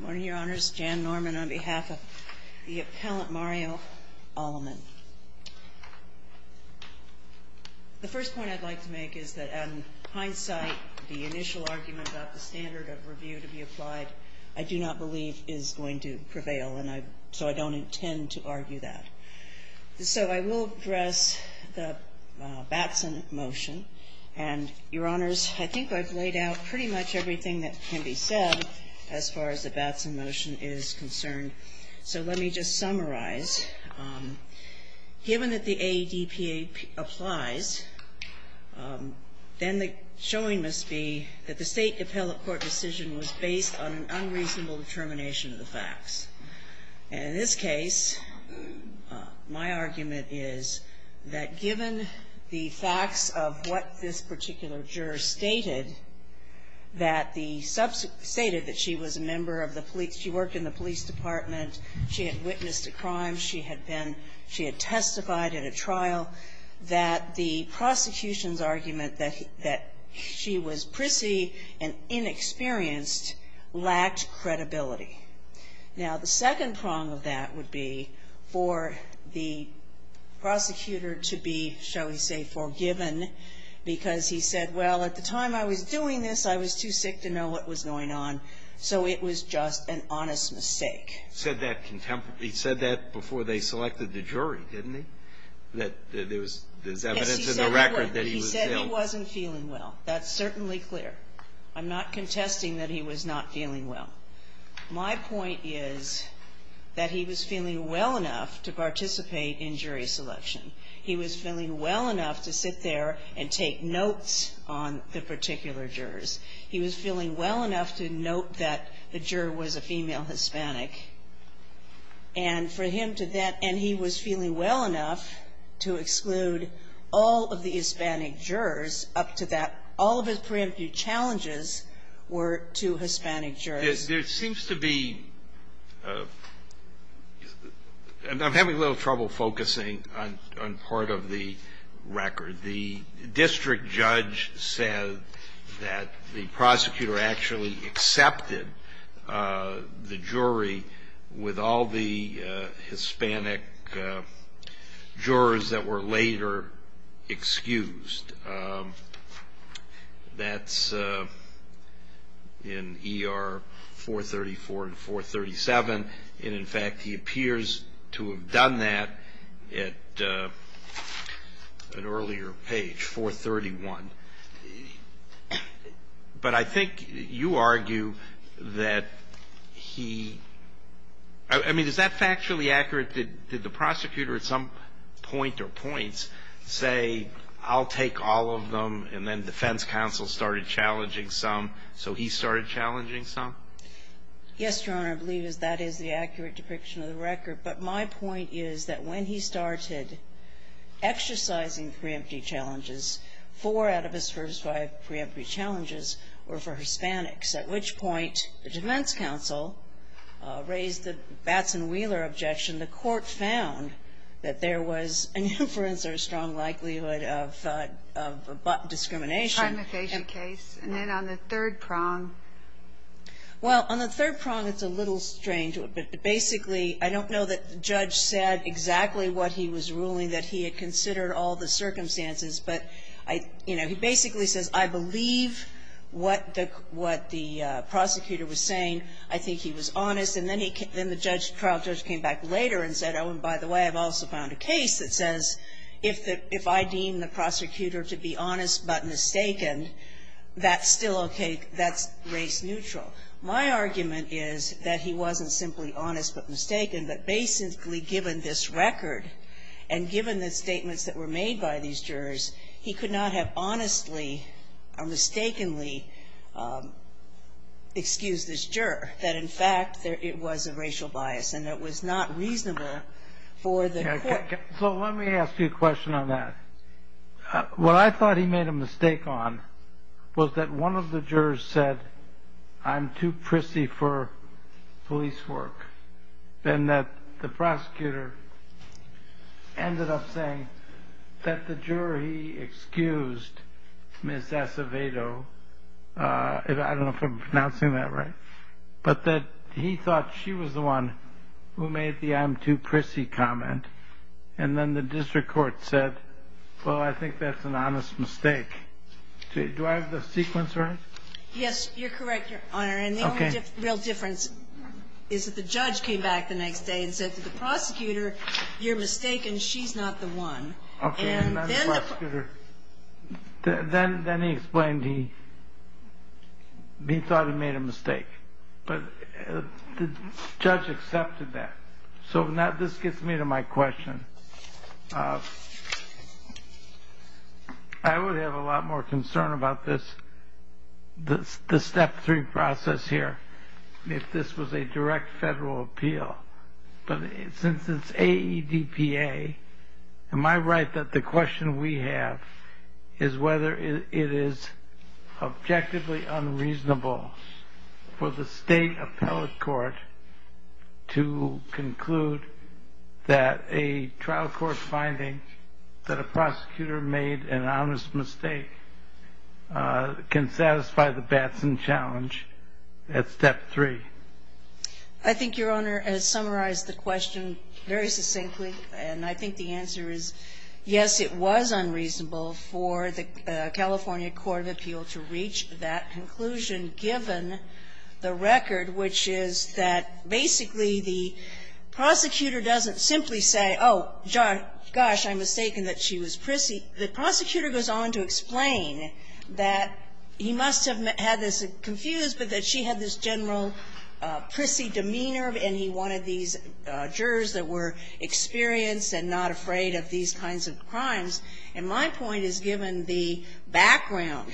Morning, Your Honors. Jan Norman on behalf of the Appellant Mario Aleman. The first point I'd like to make is that in hindsight, the initial argument about the standard of review to be applied, I do not believe is going to prevail, so I don't intend to argue that. So I will address the Batson motion, and Your Honors, I think I've laid out pretty much everything that can be said as far as the Batson motion is concerned. So let me just summarize. Given that the AEDPA applies, then the showing must be that the state appellate court decision was based on an unreasonable determination of the facts. And in this case, my argument is that given the facts of what this particular juror stated, that the, stated that she was a member of the police, she worked in the police department, she had witnessed a crime, she had been, she had testified in a trial, that the prosecution's argument that she was prissy and inexperienced lacked credibility. Now, the second prong of that would be for the prosecutor to be, shall we say, forgiven, because he said, well, at the time I was doing this, I was too sick to know what was going on, so it was just an honest mistake. He said that before they selected the jury, didn't he? That there was evidence in the record that he was ill. He said he wasn't feeling well. That's certainly clear. I'm not contesting that he was not feeling well. My point is that he was feeling well enough to participate in jury selection. He was feeling well enough to sit there and take notes on the particular jurors. He was feeling well enough to note that the juror was a female Hispanic. And for him to then, and he was feeling well enough to exclude all of the Hispanic jurors up to that, all of his preemptive challenges were to Hispanic jurors. There seems to be, and I'm having a little trouble focusing on part of the record, the district judge said that the prosecutor actually accepted the jury with all the Hispanic jurors that were later excused. That's in ER 434 and 437, and in fact he appears to have done that at an earlier page, 431. But I think you argue that he, I mean, is that factually accurate? Did the prosecutor at some point or points say, I'll take all of them, and then defense counsel started challenging some, so he started challenging some? Yes, Your Honor, I believe that is the accurate depiction of the record. But my point is that when he started exercising preemptive challenges, four out of his first five preemptive challenges were for Hispanics. At which point, the defense counsel raised the Batson-Wheeler objection. The court found that there was an inference or a strong likelihood of discrimination. And then on the third prong? Well, on the third prong, it's a little strange. But basically, I don't know that the judge said exactly what he was ruling, that he had considered all the circumstances. But, you know, he basically says, I believe what the prosecutor was saying. I think he was honest. And then the trial judge came back later and said, oh, and by the way, I've also found a case that says if I deem the prosecutor to be honest but mistaken, that's still okay, that's race neutral. My argument is that he wasn't simply honest but mistaken, but basically given this record, and given the statements that were made by these jurors, he could not have honestly or mistakenly excused this juror. That in fact, it was a racial bias, and it was not reasonable for the court. So let me ask you a question on that. What I thought he made a mistake on was that one of the jurors said, I'm too prissy for police work, and that the prosecutor ended up saying that the juror he excused, Ms. Acevedo, I don't know if I'm pronouncing that right, but that he thought she was the one who made the I'm too prissy comment, and then the district court said, well, I think that's an honest mistake. Do I have the sequence right? Yes, you're correct, Your Honor. Okay. And the only real difference is that the judge came back the next day and said to the prosecutor, you're mistaken, she's not the one. Okay, not the prosecutor. Then he explained he thought he made a mistake, but the judge accepted that. So now this gets me to my question. I would have a lot more concern about this, the step three process here, if this was a direct federal appeal. But since it's AEDPA, am I right that the question we have is whether it is objectively unreasonable for the state appellate court to conclude that a trial court finding that a prosecutor made an honest mistake can satisfy the Batson challenge at step three? I think Your Honor has summarized the question very succinctly, and I think the answer is yes, it was unreasonable for the California Court of Appeal to reach that conclusion, given the record, which is that basically the prosecutor doesn't simply say, oh, gosh, I'm mistaken that she was prissy. The prosecutor goes on to explain that he must have had this confused, but that she had this general prissy demeanor and he wanted these jurors that were experienced and not afraid of these kinds of crimes. And my point is, given the background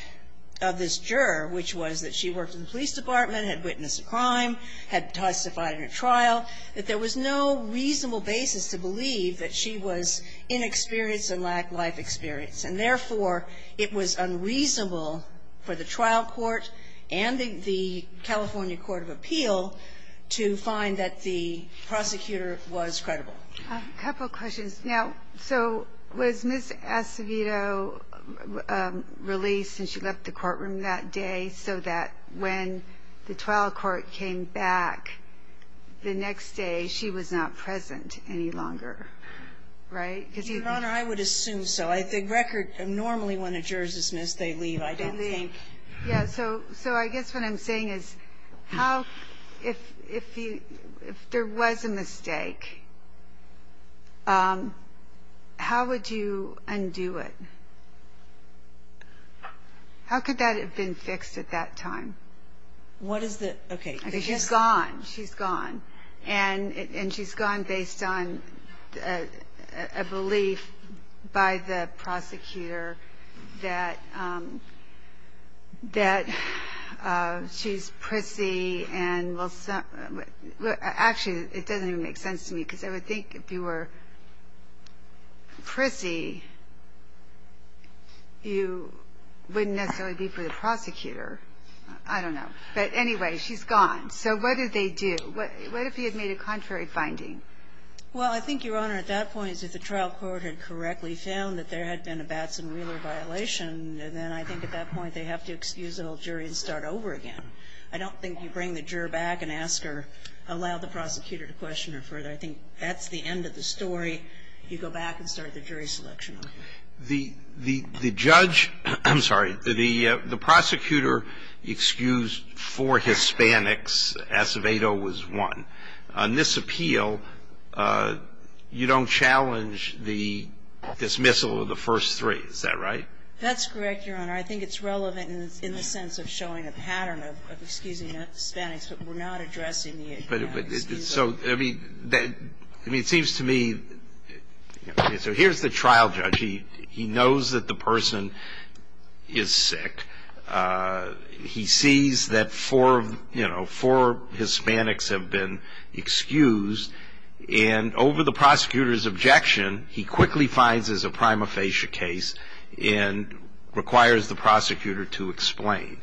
of this juror, which was that she worked in the police department, had witnessed a crime, had testified in a trial, that there was no reasonable basis to believe that she was inexperienced and lacked life experience. And therefore, it was unreasonable for the trial court and the California Court of Appeal to find that the prosecutor was credible. A couple questions. Now, so was Ms. Acevedo released and she left the courtroom that day so that when the trial court came back the next day, she was not present any longer? Right? Your Honor, I would assume so. The record normally, when a juror is dismissed, they leave, I don't think. Yeah, so I guess what I'm saying is, if there was a mistake, how would you undo it? How could that have been fixed at that time? What is the, okay. She's gone. She's gone. And she's gone based on a belief by the prosecutor that she's prissy. Actually, it doesn't even make sense to me, because I would think if you were prissy, you wouldn't necessarily be for the prosecutor. I don't know. But anyway, she's gone. So what do they do? What if he had made a contrary finding? Well, I think, Your Honor, at that point, if the trial court had correctly found that there had been a Batson-Wheeler violation, then I think at that point they have to excuse the whole jury and start over again. I don't think you bring the juror back and ask her, allow the prosecutor to question her further. I think that's the end of the story. You go back and start the jury selection on her. The judge, I'm sorry, the prosecutor excused four Hispanics. Acevedo was one. On this appeal, you don't challenge the dismissal of the first three. Is that right? That's correct, Your Honor. I think it's relevant in the sense of showing a pattern of excusing Hispanics, but we're not addressing the excuse. I mean, it seems to me, so here's the trial judge. He knows that the person is sick. He sees that four Hispanics have been excused, and over the prosecutor's objection, he quickly finds there's a prima facie case and requires the prosecutor to explain.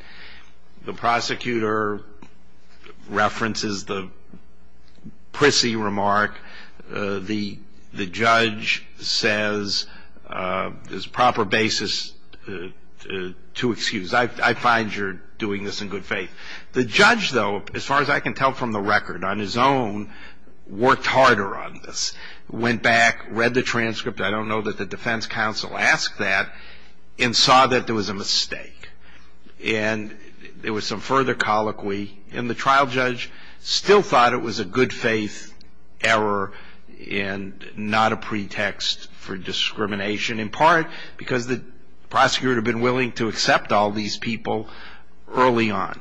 The prosecutor references the prissy remark. The judge says there's proper basis to excuse. I find you're doing this in good faith. The judge, though, as far as I can tell from the record, on his own, worked harder on this, went back, read the transcript. I don't know that the defense counsel asked that and saw that there was a mistake. And there was some further colloquy, and the trial judge still thought it was a good faith error and not a pretext for discrimination, in part because the prosecutor had been willing to accept all these people early on.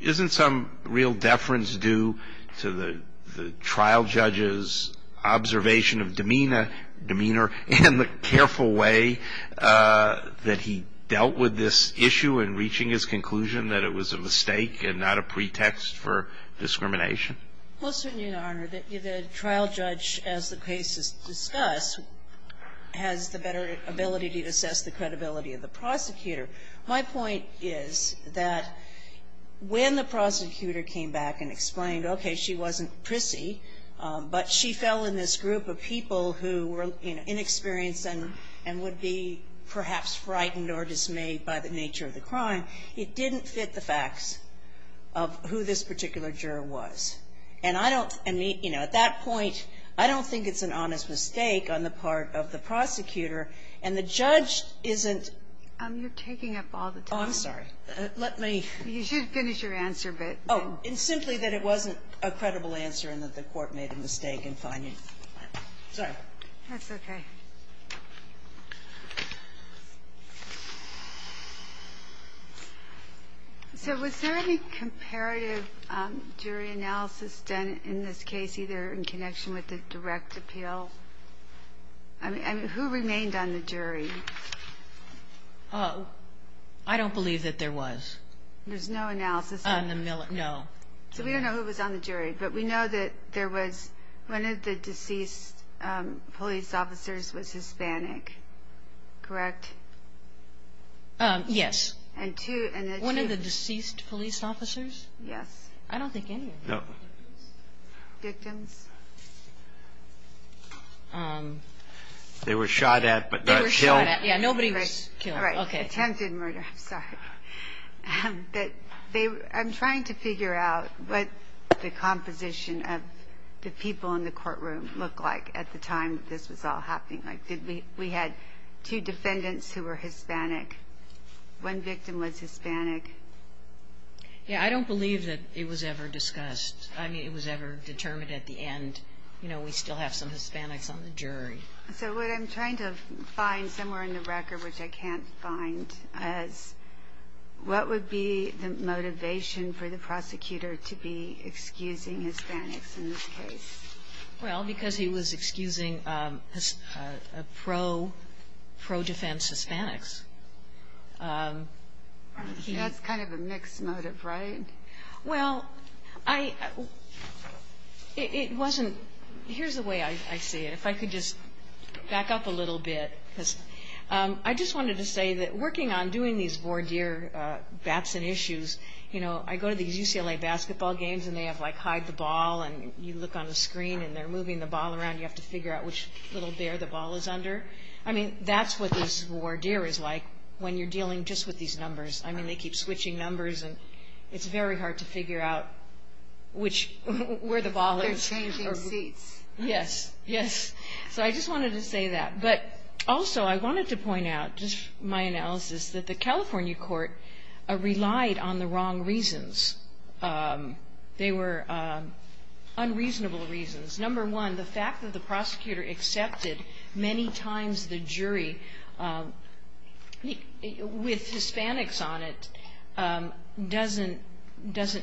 Isn't some real deference due to the trial judge's observation of demeanor and the careful way that he dealt with this issue in reaching his conclusion that it was a mistake and not a pretext for discrimination? Well, certainly, Your Honor, the trial judge, as the cases discuss, has the better ability to assess the credibility of the prosecutor. My point is that when the prosecutor came back and explained, okay, she wasn't prissy, but she fell in this group of people who were, you know, inexperienced and would be perhaps frightened or dismayed by the nature of the crime, it didn't fit the facts of who this particular juror was. And I don't, I mean, you know, at that point, I don't think it's an honest mistake on the part of the prosecutor. And the judge isn't. You're taking up all the time. Oh, I'm sorry. Let me. You should finish your answer, but. Oh, in simply that it wasn't a credible answer and that the Court made a mistake in finding. Sorry. That's okay. So was there any comparative jury analysis done in this case, either in connection with the direct appeal? I mean, who remained on the jury? Oh, I don't believe that there was. There's no analysis? No. So we don't know who was on the jury, but we know that there was one of the deceased police officers was Hispanic, correct? Yes. And two. One of the deceased police officers? Yes. I don't think any of them. No. Victims? They were shot at, but not killed. They were shot at. Yeah, nobody was killed. All right. Attempted murder. I'm sorry. I'm trying to figure out what the composition of the people in the courtroom looked like at the time this was all happening. Like, we had two defendants who were Hispanic. One victim was Hispanic. Yeah, I don't believe that it was ever discussed. I mean, it was ever determined at the end, you know, we still have some Hispanics on the jury. So what I'm trying to find somewhere in the record, which I can't find, is what would be the motivation for the prosecutor to be excusing Hispanics in this case? Well, because he was excusing pro-defense Hispanics. That's kind of a mixed motive, right? Well, it wasn't – here's the way I see it. If I could just back up a little bit. I just wanted to say that working on doing these voir dire bats and issues, you know, I go to these UCLA basketball games, and they have, like, hide the ball, and you look on the screen, and they're moving the ball around. You have to figure out which little bear the ball is under. I mean, that's what this voir dire is like when you're dealing just with these numbers. I mean, they keep switching numbers, and it's very hard to figure out which – where the ball is. They're changing seats. Yes. Yes. So I just wanted to say that. But also I wanted to point out, just my analysis, that the California court relied on the wrong reasons. They were unreasonable reasons. Number one, the fact that the prosecutor accepted many times the jury, with Hispanics on it, doesn't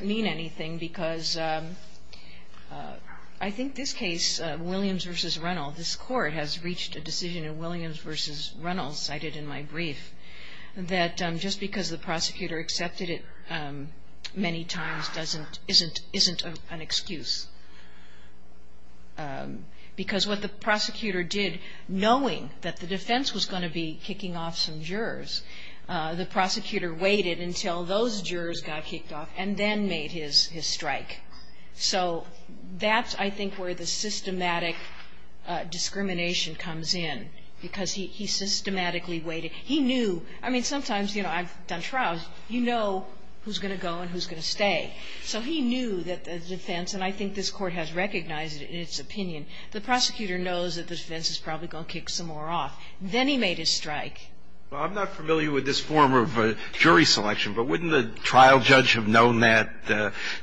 mean anything because I think this case, Williams v. Reynolds, this court has reached a decision in Williams v. Reynolds, cited in my brief, that just because the prosecutor accepted it many times isn't an excuse. Because what the prosecutor did, knowing that the defense was going to be kicking off some jurors, the prosecutor waited until those jurors got kicked off and then made his strike. So that's, I think, where the systematic discrimination comes in, because he systematically waited. He knew. I mean, sometimes, you know, I've done trials. You know who's going to go and who's going to stay. So he knew that the defense, and I think this court has recognized it in its opinion, the prosecutor knows that the defense is probably going to kick some more off. Then he made his strike. Well, I'm not familiar with this form of jury selection, but wouldn't the trial judge have known that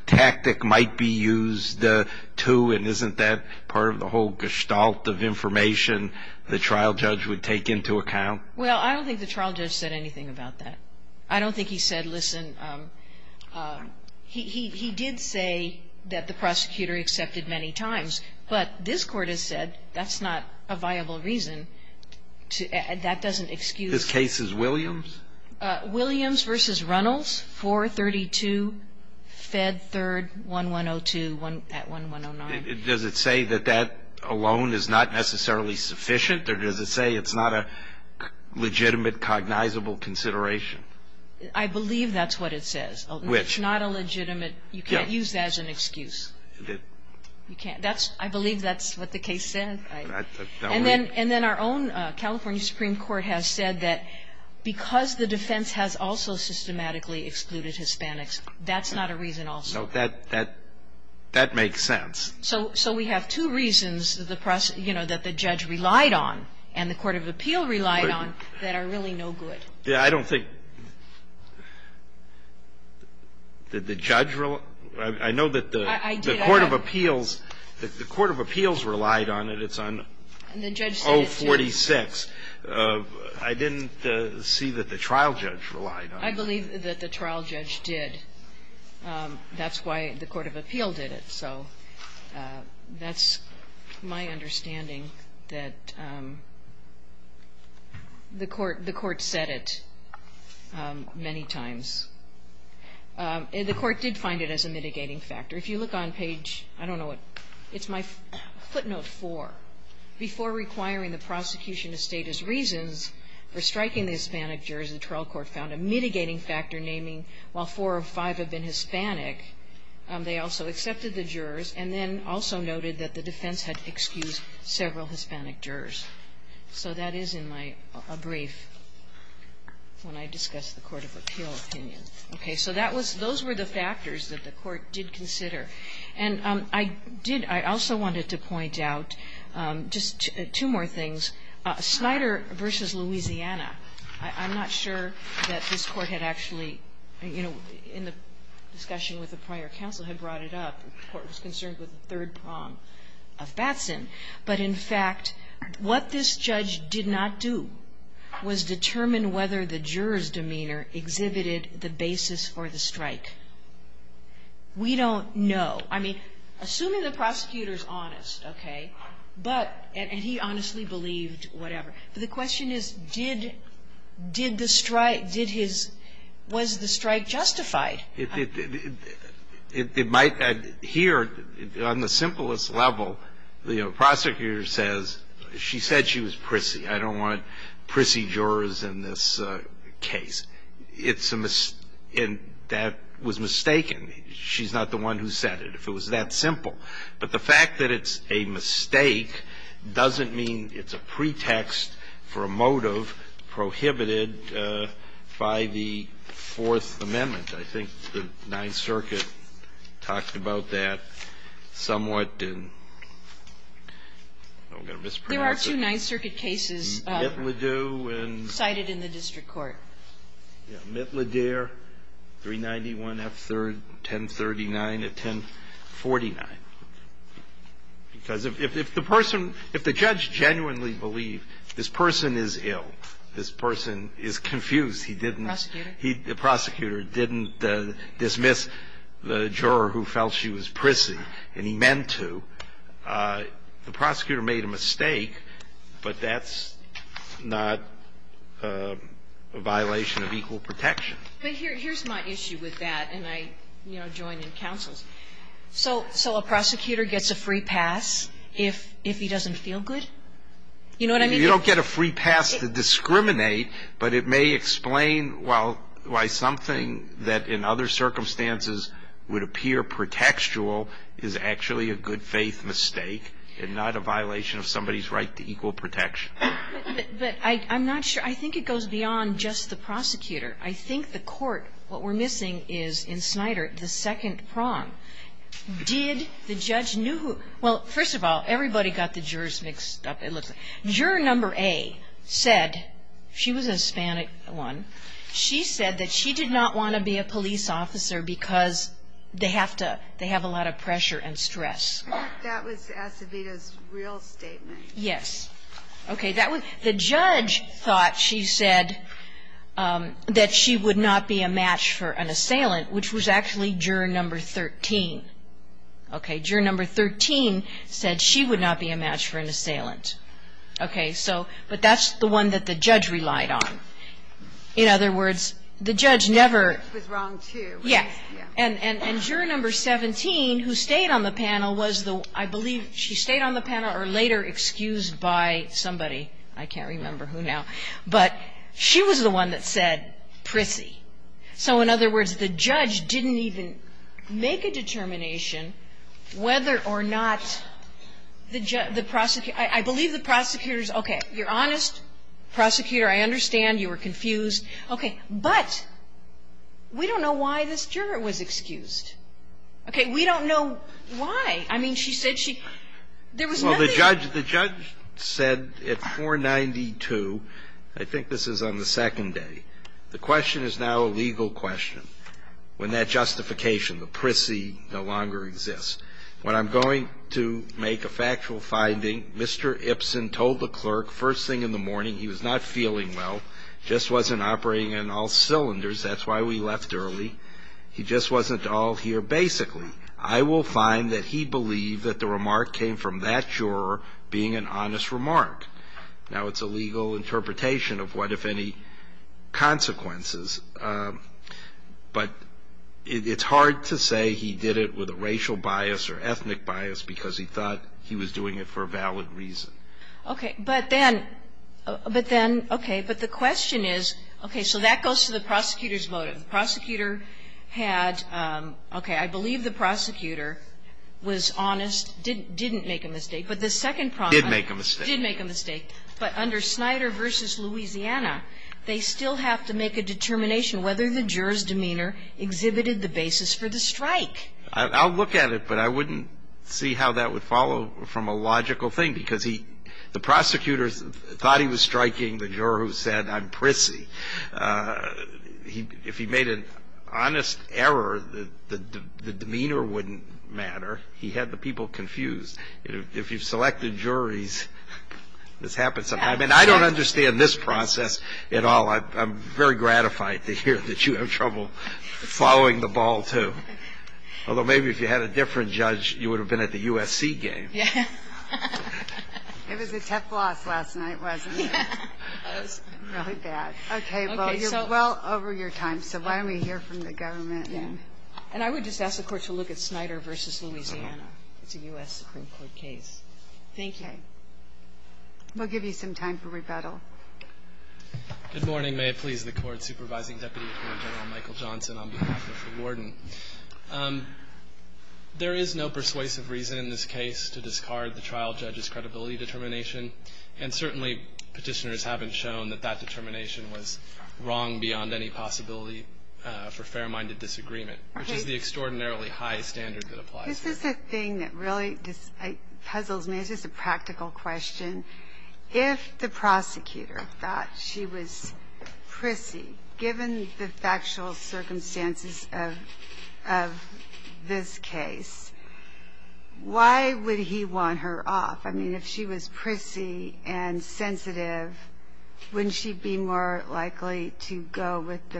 tactic might be used, too, and isn't that part of the whole gestalt of information the trial judge would take into account? Well, I don't think the trial judge said anything about that. I don't think he said, listen, he did say that the prosecutor accepted many times, but this Court has said that's not a viable reason. That doesn't excuse. This case is Williams? Williams v. Reynolds, 432, Fed 3rd, 1102 at 1109. Does it say that that alone is not necessarily sufficient? Or does it say it's not a legitimate, cognizable consideration? I believe that's what it says. Which? It's not a legitimate. You can't use that as an excuse. You can't. I believe that's what the case said. And then our own California Supreme Court has said that because the defense has also systematically excluded Hispanics, that's not a reason also. That makes sense. So we have two reasons, you know, that the judge relied on and the court of appeal relied on that are really no good. Yeah. I don't think that the judge relied. I know that the court of appeals relied on it. It's on 046. I didn't see that the trial judge relied on it. I believe that the trial judge did. That's why the court of appeal did it. So that's my understanding that the court said it many times. The court did find it as a mitigating factor. If you look on page, I don't know what, it's my footnote four. Before requiring the prosecution to state his reasons for striking the Hispanic jurors, the trial court found a mitigating factor naming while four of five have been Hispanic. They also accepted the jurors and then also noted that the defense had excused several Hispanic jurors. So that is in my brief when I discuss the court of appeal opinion. Okay. So that was the factors that the court did consider. And I did also wanted to point out just two more things. Snyder v. Louisiana. I'm not sure that this Court had actually, you know, in the discussion with the prior counsel, had brought it up. The Court was concerned with the third prong of Batson. But, in fact, what this judge did not do was determine whether the juror's demeanor exhibited the basis for the strike. We don't know. I mean, assuming the prosecutor is honest, okay, but he honestly believed whatever. But the question is, did the strike, did his, was the strike justified? It might. Here, on the simplest level, the prosecutor says, she said she was prissy. I don't want prissy jurors in this case. It's a miss and that was mistaken. She's not the one who said it, if it was that simple. But the fact that it's a mistake doesn't mean it's a pretext for a motive prohibited by the Fourth Amendment. I think the Ninth Circuit talked about that somewhat in, I'm going to mispronounce it. There are two Ninth Circuit cases cited in the district court. Mittleder, 391 F. 3rd, 1039 to 1049. Because if the person, if the judge genuinely believed this person is ill, this person is confused, he didn't ---- Prosecutor? The prosecutor didn't dismiss the juror who felt she was prissy, and he meant to. The prosecutor made a mistake, but that's not a violation of equal protection. But here's my issue with that, and I, you know, join in counsel's. So a prosecutor gets a free pass if he doesn't feel good? You know what I mean? You don't get a free pass to discriminate, but it may explain why something that in other circumstances would appear pretextual is actually a good faith mistake and not a violation of somebody's right to equal protection. But I'm not sure. I think it goes beyond just the prosecutor. I think the court, what we're missing is, in Snyder, the second prong. Did the judge know who? Well, first of all, everybody got the jurors mixed up, it looks like. Juror number A said, she was a Hispanic one. She said that she did not want to be a police officer because they have to, they have a lot of pressure and stress. That was Acevedo's real statement. Yes. Okay. The judge thought, she said, that she would not be a match for an assailant, which was actually juror number 13. Okay. Juror number 13 said she would not be a match for an assailant. Okay. So, but that's the one that the judge relied on. In other words, the judge never. It was wrong, too. Yes. And juror number 17, who stayed on the panel, was the, I believe, she stayed on the panel or later excused by somebody. I can't remember who now. But she was the one that said, prissy. So in other words, the judge didn't even make a determination whether or not the prosecutor, I believe the prosecutor's, okay, you're honest. Prosecutor, I understand you were confused. Okay. But we don't know why this juror was excused. Okay. We don't know why. I mean, she said she, there was nothing. Well, the judge said at 492, I think this is on the second day, the question is now a legal question. When that justification, the prissy, no longer exists. When I'm going to make a factual finding, Mr. Ipson told the clerk first thing in the morning, he was not feeling well, just wasn't operating in all cylinders, that's why we left early, he just wasn't all here basically. I will find that he believed that the remark came from that juror being an honest remark. Now, it's a legal interpretation of what, if any, consequences. But it's hard to say he did it with a racial bias or ethnic bias because he thought he was doing it for a valid reason. Okay. But then, but then, okay. But the question is, okay, so that goes to the prosecutor's motive. The prosecutor had, okay, I believe the prosecutor was honest, didn't make a mistake. But the second problem. Did make a mistake. Did make a mistake. But under Snyder v. Louisiana, they still have to make a determination whether the juror's demeanor exhibited the basis for the strike. I'll look at it, but I wouldn't see how that would follow from a logical thing, because he, the prosecutor thought he was striking the juror who said, I'm prissy. If he made an honest error, the demeanor wouldn't matter. He had the people confused. And I don't understand this process at all. I'm very gratified to hear that you have trouble following the ball, too. Although maybe if you had a different judge, you would have been at the USC game. Yeah. It was a tough loss last night, wasn't it? Yeah. It was really bad. Okay. Well, you're well over your time, so why don't we hear from the government then. And I would just ask the Court to look at Snyder v. Louisiana. It's a U.S. Supreme Court case. Thank you. Okay. We'll give you some time for rebuttal. Good morning. May it please the Court. Supervising Deputy Attorney General Michael Johnson on behalf of the Warden. There is no persuasive reason in this case to discard the trial judge's credibility determination, and certainly Petitioners haven't shown that that determination was wrong beyond any possibility for fair-minded disagreement, which is the extraordinarily high standard that applies here. This is the thing that really puzzles me. This is a practical question. If the prosecutor thought she was prissy, given the factual circumstances of this case, why would he want her off? I mean, if she was prissy and sensitive, wouldn't she be more likely to go with the biggest,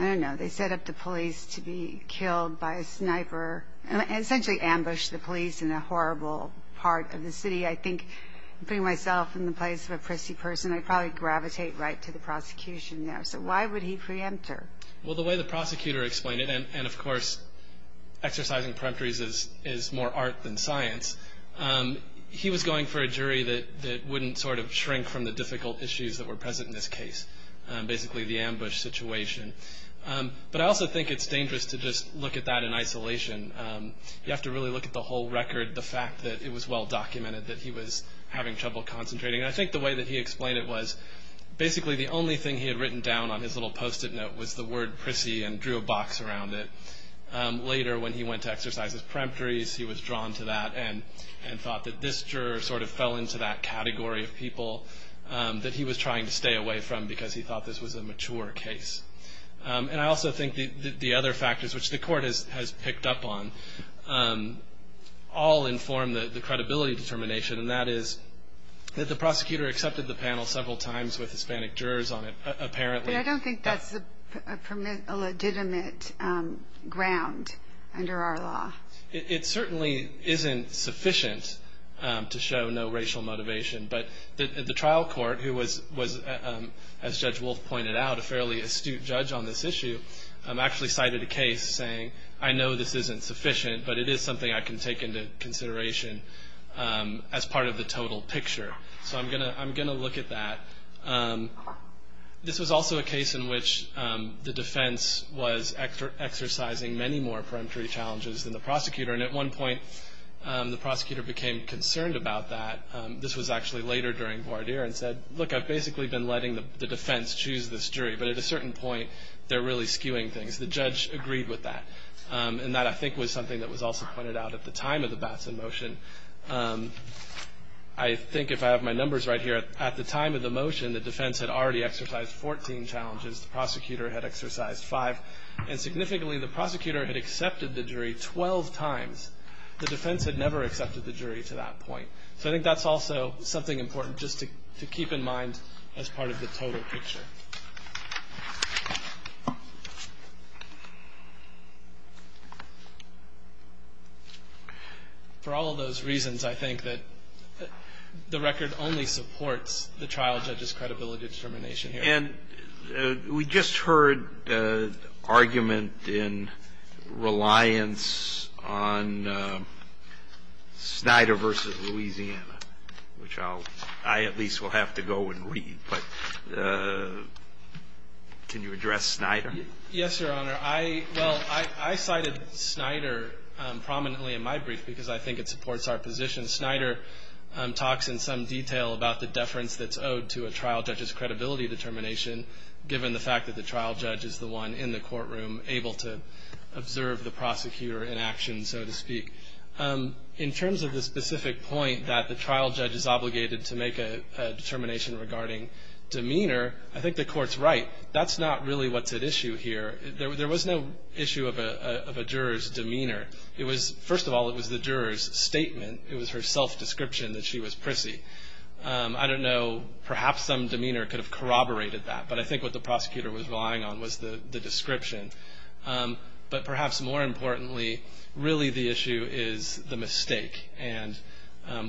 I don't know, they set up the police to be killed by a sniper, and essentially ambush the police in a horrible part of the city? I think putting myself in the place of a prissy person, I'd probably gravitate right to the prosecution there. So why would he preempt her? Well, the way the prosecutor explained it, and of course, exercising peremptories is more art than science, he was going for a jury that wouldn't sort of shrink from the situation. But I also think it's dangerous to just look at that in isolation. You have to really look at the whole record, the fact that it was well-documented that he was having trouble concentrating. And I think the way that he explained it was basically the only thing he had written down on his little Post-it note was the word prissy and drew a box around it. Later, when he went to exercise his peremptories, he was drawn to that and thought that this juror sort of fell into that category of people that he was trying to stay away from because he thought this was a mature case. And I also think the other factors, which the court has picked up on, all inform the credibility determination. And that is that the prosecutor accepted the panel several times with Hispanic jurors on it, apparently. But I don't think that's a legitimate ground under our law. It certainly isn't sufficient to show no racial motivation. But the trial court, who was, as Judge Wolf pointed out, a fairly astute judge on this issue, actually cited a case saying, I know this isn't sufficient, but it is something I can take into consideration as part of the total picture. So I'm going to look at that. This was also a case in which the defense was exercising many more peremptory challenges than the prosecutor. And at one point, the prosecutor became concerned about that. This was actually later during voir dire, and said, look, I've basically been letting the defense choose this jury. But at a certain point, they're really skewing things. The judge agreed with that. And that, I think, was something that was also pointed out at the time of the Batson motion. I think, if I have my numbers right here, at the time of the motion, the defense had already exercised 14 challenges. The prosecutor had exercised five. And significantly, the prosecutor had accepted the jury 12 times. The defense had never accepted the jury to that point. So I think that's also something important just to keep in mind as part of the total picture. For all of those reasons, I think that the record only supports the trial judge's credibility determination here. And we just heard the argument in reliance on Snyder v. Louisiana, which I at least will have to go and read. But can you address Snyder? Yes, Your Honor. Well, I cited Snyder prominently in my brief because I think it supports our position. Snyder talks in some detail about the deference that's owed to a trial judge's determination, given the fact that the trial judge is the one in the courtroom able to observe the prosecutor in action, so to speak. In terms of the specific point that the trial judge is obligated to make a determination regarding demeanor, I think the Court's right. That's not really what's at issue here. There was no issue of a juror's demeanor. First of all, it was the juror's statement. It was her self-description that she was prissy. I don't know. Perhaps some demeanor could have corroborated that. But I think what the prosecutor was relying on was the description. But perhaps more importantly, really the issue is the mistake and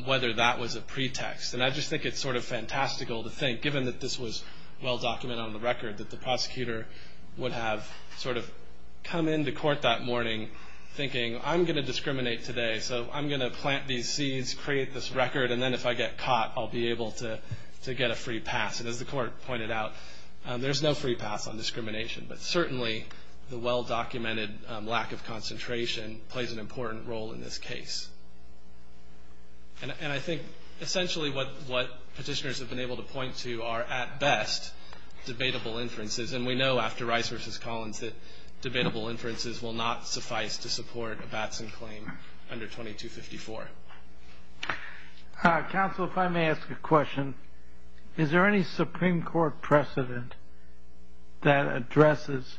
whether that was a pretext. And I just think it's sort of fantastical to think, given that this was well-documented on the record, that the prosecutor would have sort of come into court that morning thinking, I'm going to discriminate today, so I'm going to plant these seeds, create this record, and then if I get caught, I'll be able to get a free pass. And as the Court pointed out, there's no free pass on discrimination. But certainly the well-documented lack of concentration plays an important role in this case. And I think essentially what petitioners have been able to point to are, at best, debatable inferences. And we know after Rice v. Collins that debatable inferences will not suffice to support a Batson claim under 2254. Counsel, if I may ask a question. Is there any Supreme Court precedent that addresses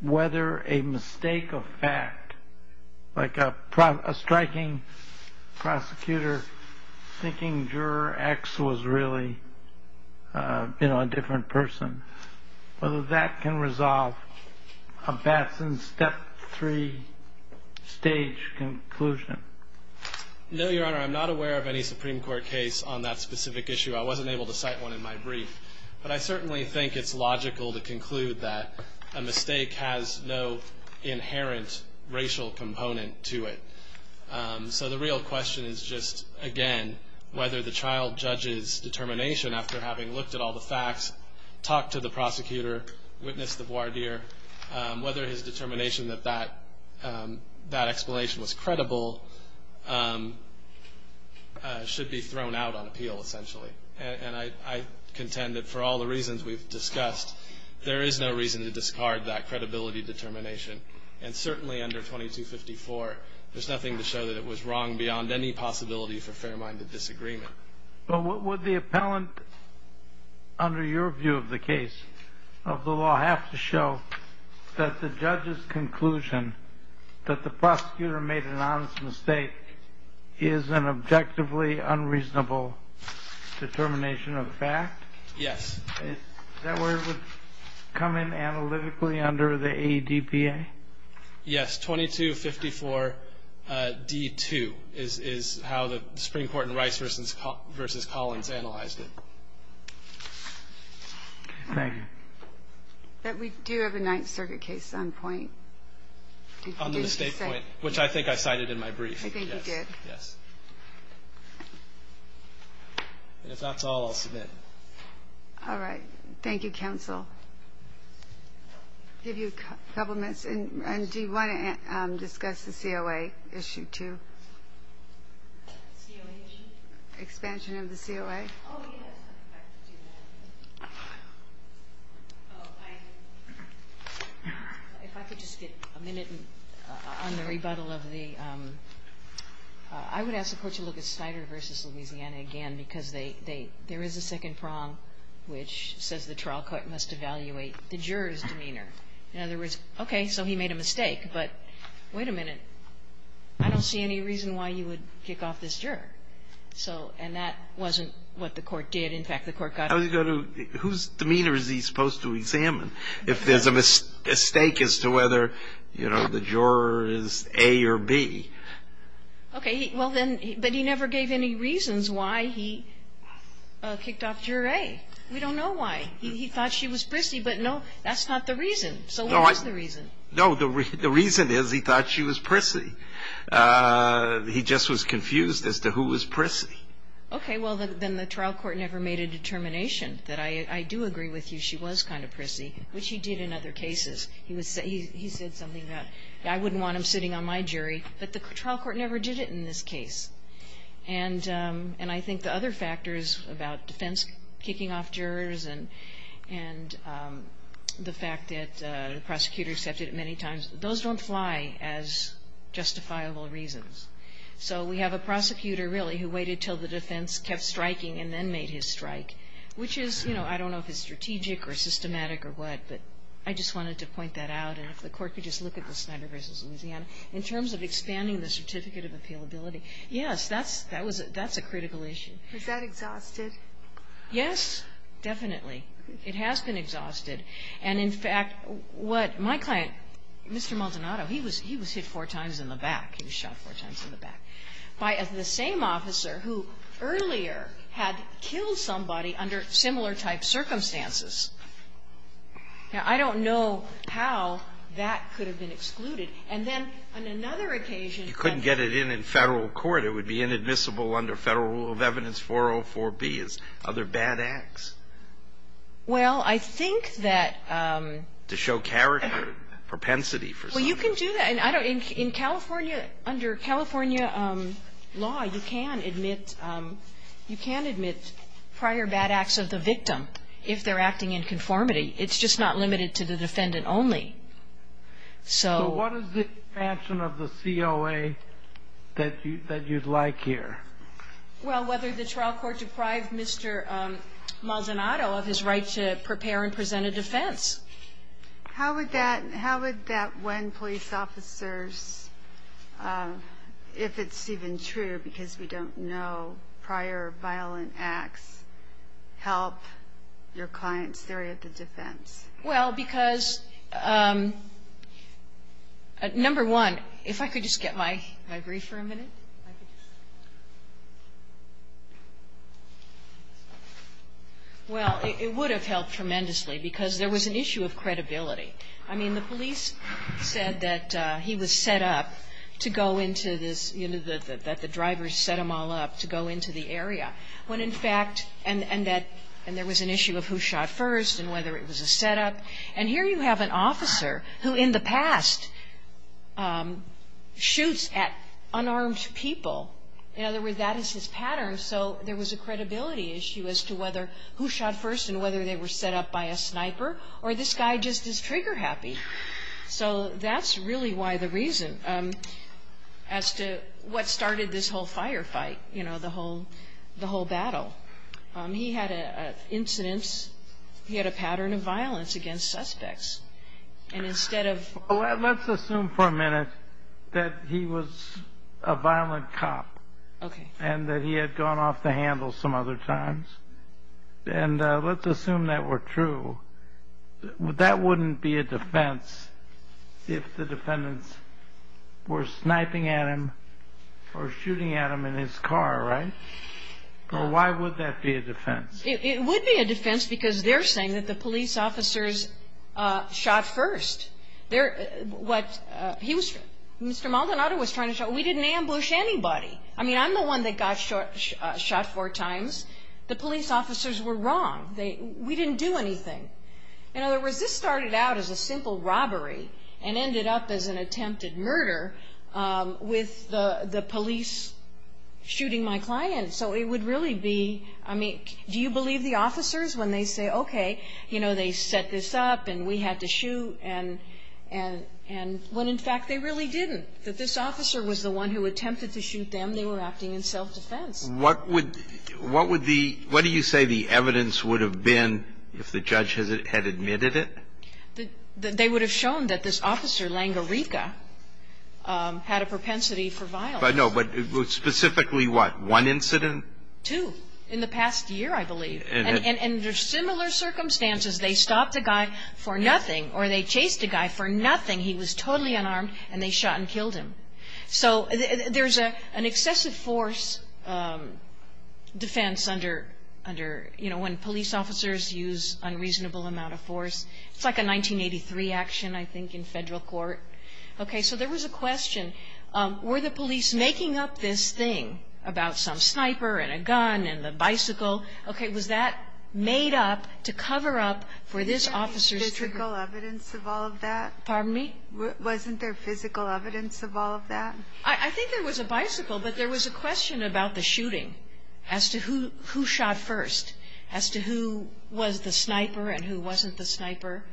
whether a mistake of fact, like a striking prosecutor thinking juror X was really a different person, whether that can resolve a Batson step three stage conclusion? No, Your Honor, I'm not aware of any Supreme Court case on that specific issue. I wasn't able to cite one in my brief. But I certainly think it's logical to conclude that a mistake has no inherent racial component to it. So the real question is just, again, whether the child judge's determination after having looked at all the facts, talked to the prosecutor, witnessed the voir dire, whether his determination that that explanation was credible should be thrown out on appeal, essentially. And I contend that for all the reasons we've discussed, there is no reason to discard that credibility determination. And certainly under 2254, there's nothing to show that it was wrong beyond any possibility for fair-minded disagreement. But would the appellant, under your view of the case, of the law, have to show that the judge's conclusion that the prosecutor made an honest mistake is an objectively unreasonable determination of fact? Yes. That word would come in analytically under the ADPA? Yes. 2254d2 is how the Supreme Court in Rice v. Collins analyzed it. Thank you. But we do have a Ninth Circuit case on point. On the mistake point, which I think I cited in my brief. I think you did. Yes. And if that's all, I'll submit. All right. Thank you, counsel. Give you a couple minutes. And do you want to discuss the COA issue too? COA issue? Expansion of the COA. Oh, yes. I'd like to do that. If I could just get a minute on the rebuttal of the ‑‑ I would ask the Court to look at Snyder v. Louisiana again, because they ‑‑ there is a second prong which says the trial court must evaluate the juror's demeanor. In other words, okay, so he made a mistake. But wait a minute. I don't see any reason why you would kick off this juror. So ‑‑ and that wasn't what the Court did. In fact, the Court got ‑‑ Whose demeanor is he supposed to examine if there's a mistake as to whether, you know, the juror is A or B? Okay. Well, then, but he never gave any reasons why he kicked off juror A. We don't know why. He thought she was prissy, but no, that's not the reason. So what was the reason? No. The reason is he thought she was prissy. He just was confused as to who was prissy. Okay, well, then the trial court never made a determination that I do agree with you she was kind of prissy, which he did in other cases. He said something about I wouldn't want him sitting on my jury, but the trial court never did it in this case. And I think the other factors about defense kicking off jurors and the fact that the prosecutor accepted it many times, those don't fly as justifiable reasons. So we have a prosecutor, really, who waited until the defense kept striking and then made his strike, which is, you know, I don't know if it's strategic or systematic or what, but I just wanted to point that out. And if the Court could just look at the Snyder v. Louisiana. In terms of expanding the certificate of appealability, yes, that's a critical issue. Is that exhausted? Yes, definitely. It has been exhausted. And, in fact, what my client, Mr. Maldonado, he was hit four times in the back. He was shot four times in the back by the same officer who earlier had killed somebody under similar-type circumstances. Now, I don't know how that could have been excluded. And then on another occasion that the ---- You couldn't get it in in Federal court. It would be inadmissible under Federal Rule of Evidence 404B as other bad acts. Well, I think that ---- To show character, propensity for something. Well, you can do that. In California, under California law, you can admit prior bad acts of the victim if they're acting in conformity. It's just not limited to the defendant only. So ---- So what is the expansion of the COA that you'd like here? Well, whether the trial court deprived Mr. Maldonado of his right to prepare and present a defense. How would that ---- how would that win police officers, if it's even true, because we don't know prior violent acts, help your client's theory of the defense? Well, because, number one, if I could just get my brief for a minute. Well, it would have helped tremendously, because there was an issue of credibility. I mean, the police said that he was set up to go into this, you know, that the drivers set them all up to go into the area, when in fact ---- and that ---- and there was an issue of who shot first and whether it was a setup. And here you have an officer who in the past shoots at unarmed people. In other words, that is his pattern. So there was a credibility issue as to whether who shot first and whether they were set up by a sniper, or this guy just is trigger happy. So that's really why the reason as to what started this whole firefight, you know, the whole battle. He had an incident. He had a pattern of violence against suspects. And instead of ---- Well, let's assume for a minute that he was a violent cop. Okay. And that he had gone off the handle some other times. And let's assume that were true. That wouldn't be a defense if the defendants were sniping at him or shooting at him in his car, right? Or why would that be a defense? It would be a defense because they're saying that the police officers shot first. They're ---- what ---- he was ---- Mr. Maldonado was trying to show, we didn't ambush anybody. I mean, I'm the one that got shot four times. The police officers were wrong. We didn't do anything. In other words, this started out as a simple robbery and ended up as an attempted murder with the police shooting my client. So it would really be ---- I mean, do you believe the officers when they say, okay, you know, they set this up and we had to shoot and when, in fact, they really didn't, that this officer was the one who attempted to shoot them? They were acting in self-defense. What would the ---- what do you say the evidence would have been if the judge had admitted it? They would have shown that this officer, Langerica, had a propensity for violence. But no, but specifically what? One incident? Two. In the past year, I believe. And under similar circumstances, they stopped a guy for nothing or they chased a guy for nothing. He was totally unarmed and they shot and killed him. So there's an excessive force defense under, you know, when police officers use unreasonable amount of force. It's like a 1983 action, I think, in federal court. Okay, so there was a question. Were the police making up this thing about some sniper and a gun and the bicycle? Okay, was that made up to cover up for this officer's ---- Wasn't there physical evidence of all of that? Pardon me? Wasn't there physical evidence of all of that? I think there was a bicycle, but there was a question about the shooting as to who shot first. As to who was the sniper and who wasn't the sniper.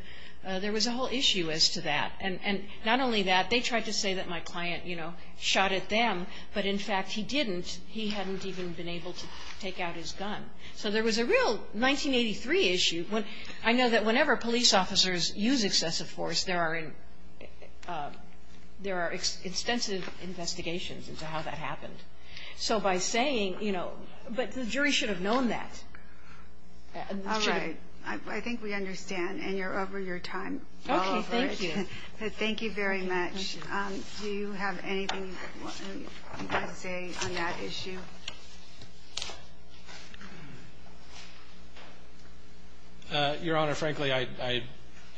There was a whole issue as to that. And not only that, they tried to say that my client, you know, shot at them. But in fact, he didn't. He hadn't even been able to take out his gun. So there was a real 1983 issue. I know that whenever police officers use excessive force, there are extensive investigations into how that happened. So by saying, you know, but the jury should have known that. All right. I think we understand. And you're over your time. Okay, thank you. Thank you very much. Do you have anything you want to say on that issue? Your Honor, frankly, I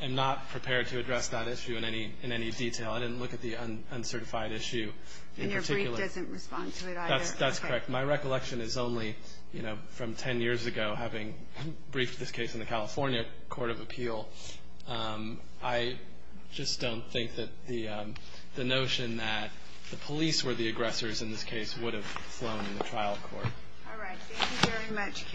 am not prepared to address that issue in any detail. I didn't look at the uncertified issue in particular. The jury doesn't respond to it either. That's correct. My recollection is only, you know, from ten years ago, having briefed this case in the California Court of Appeal. I just don't think that the notion that the police were the aggressors in this case would have flown in the trial court. All right. Thank you very much, counsel. Thank you.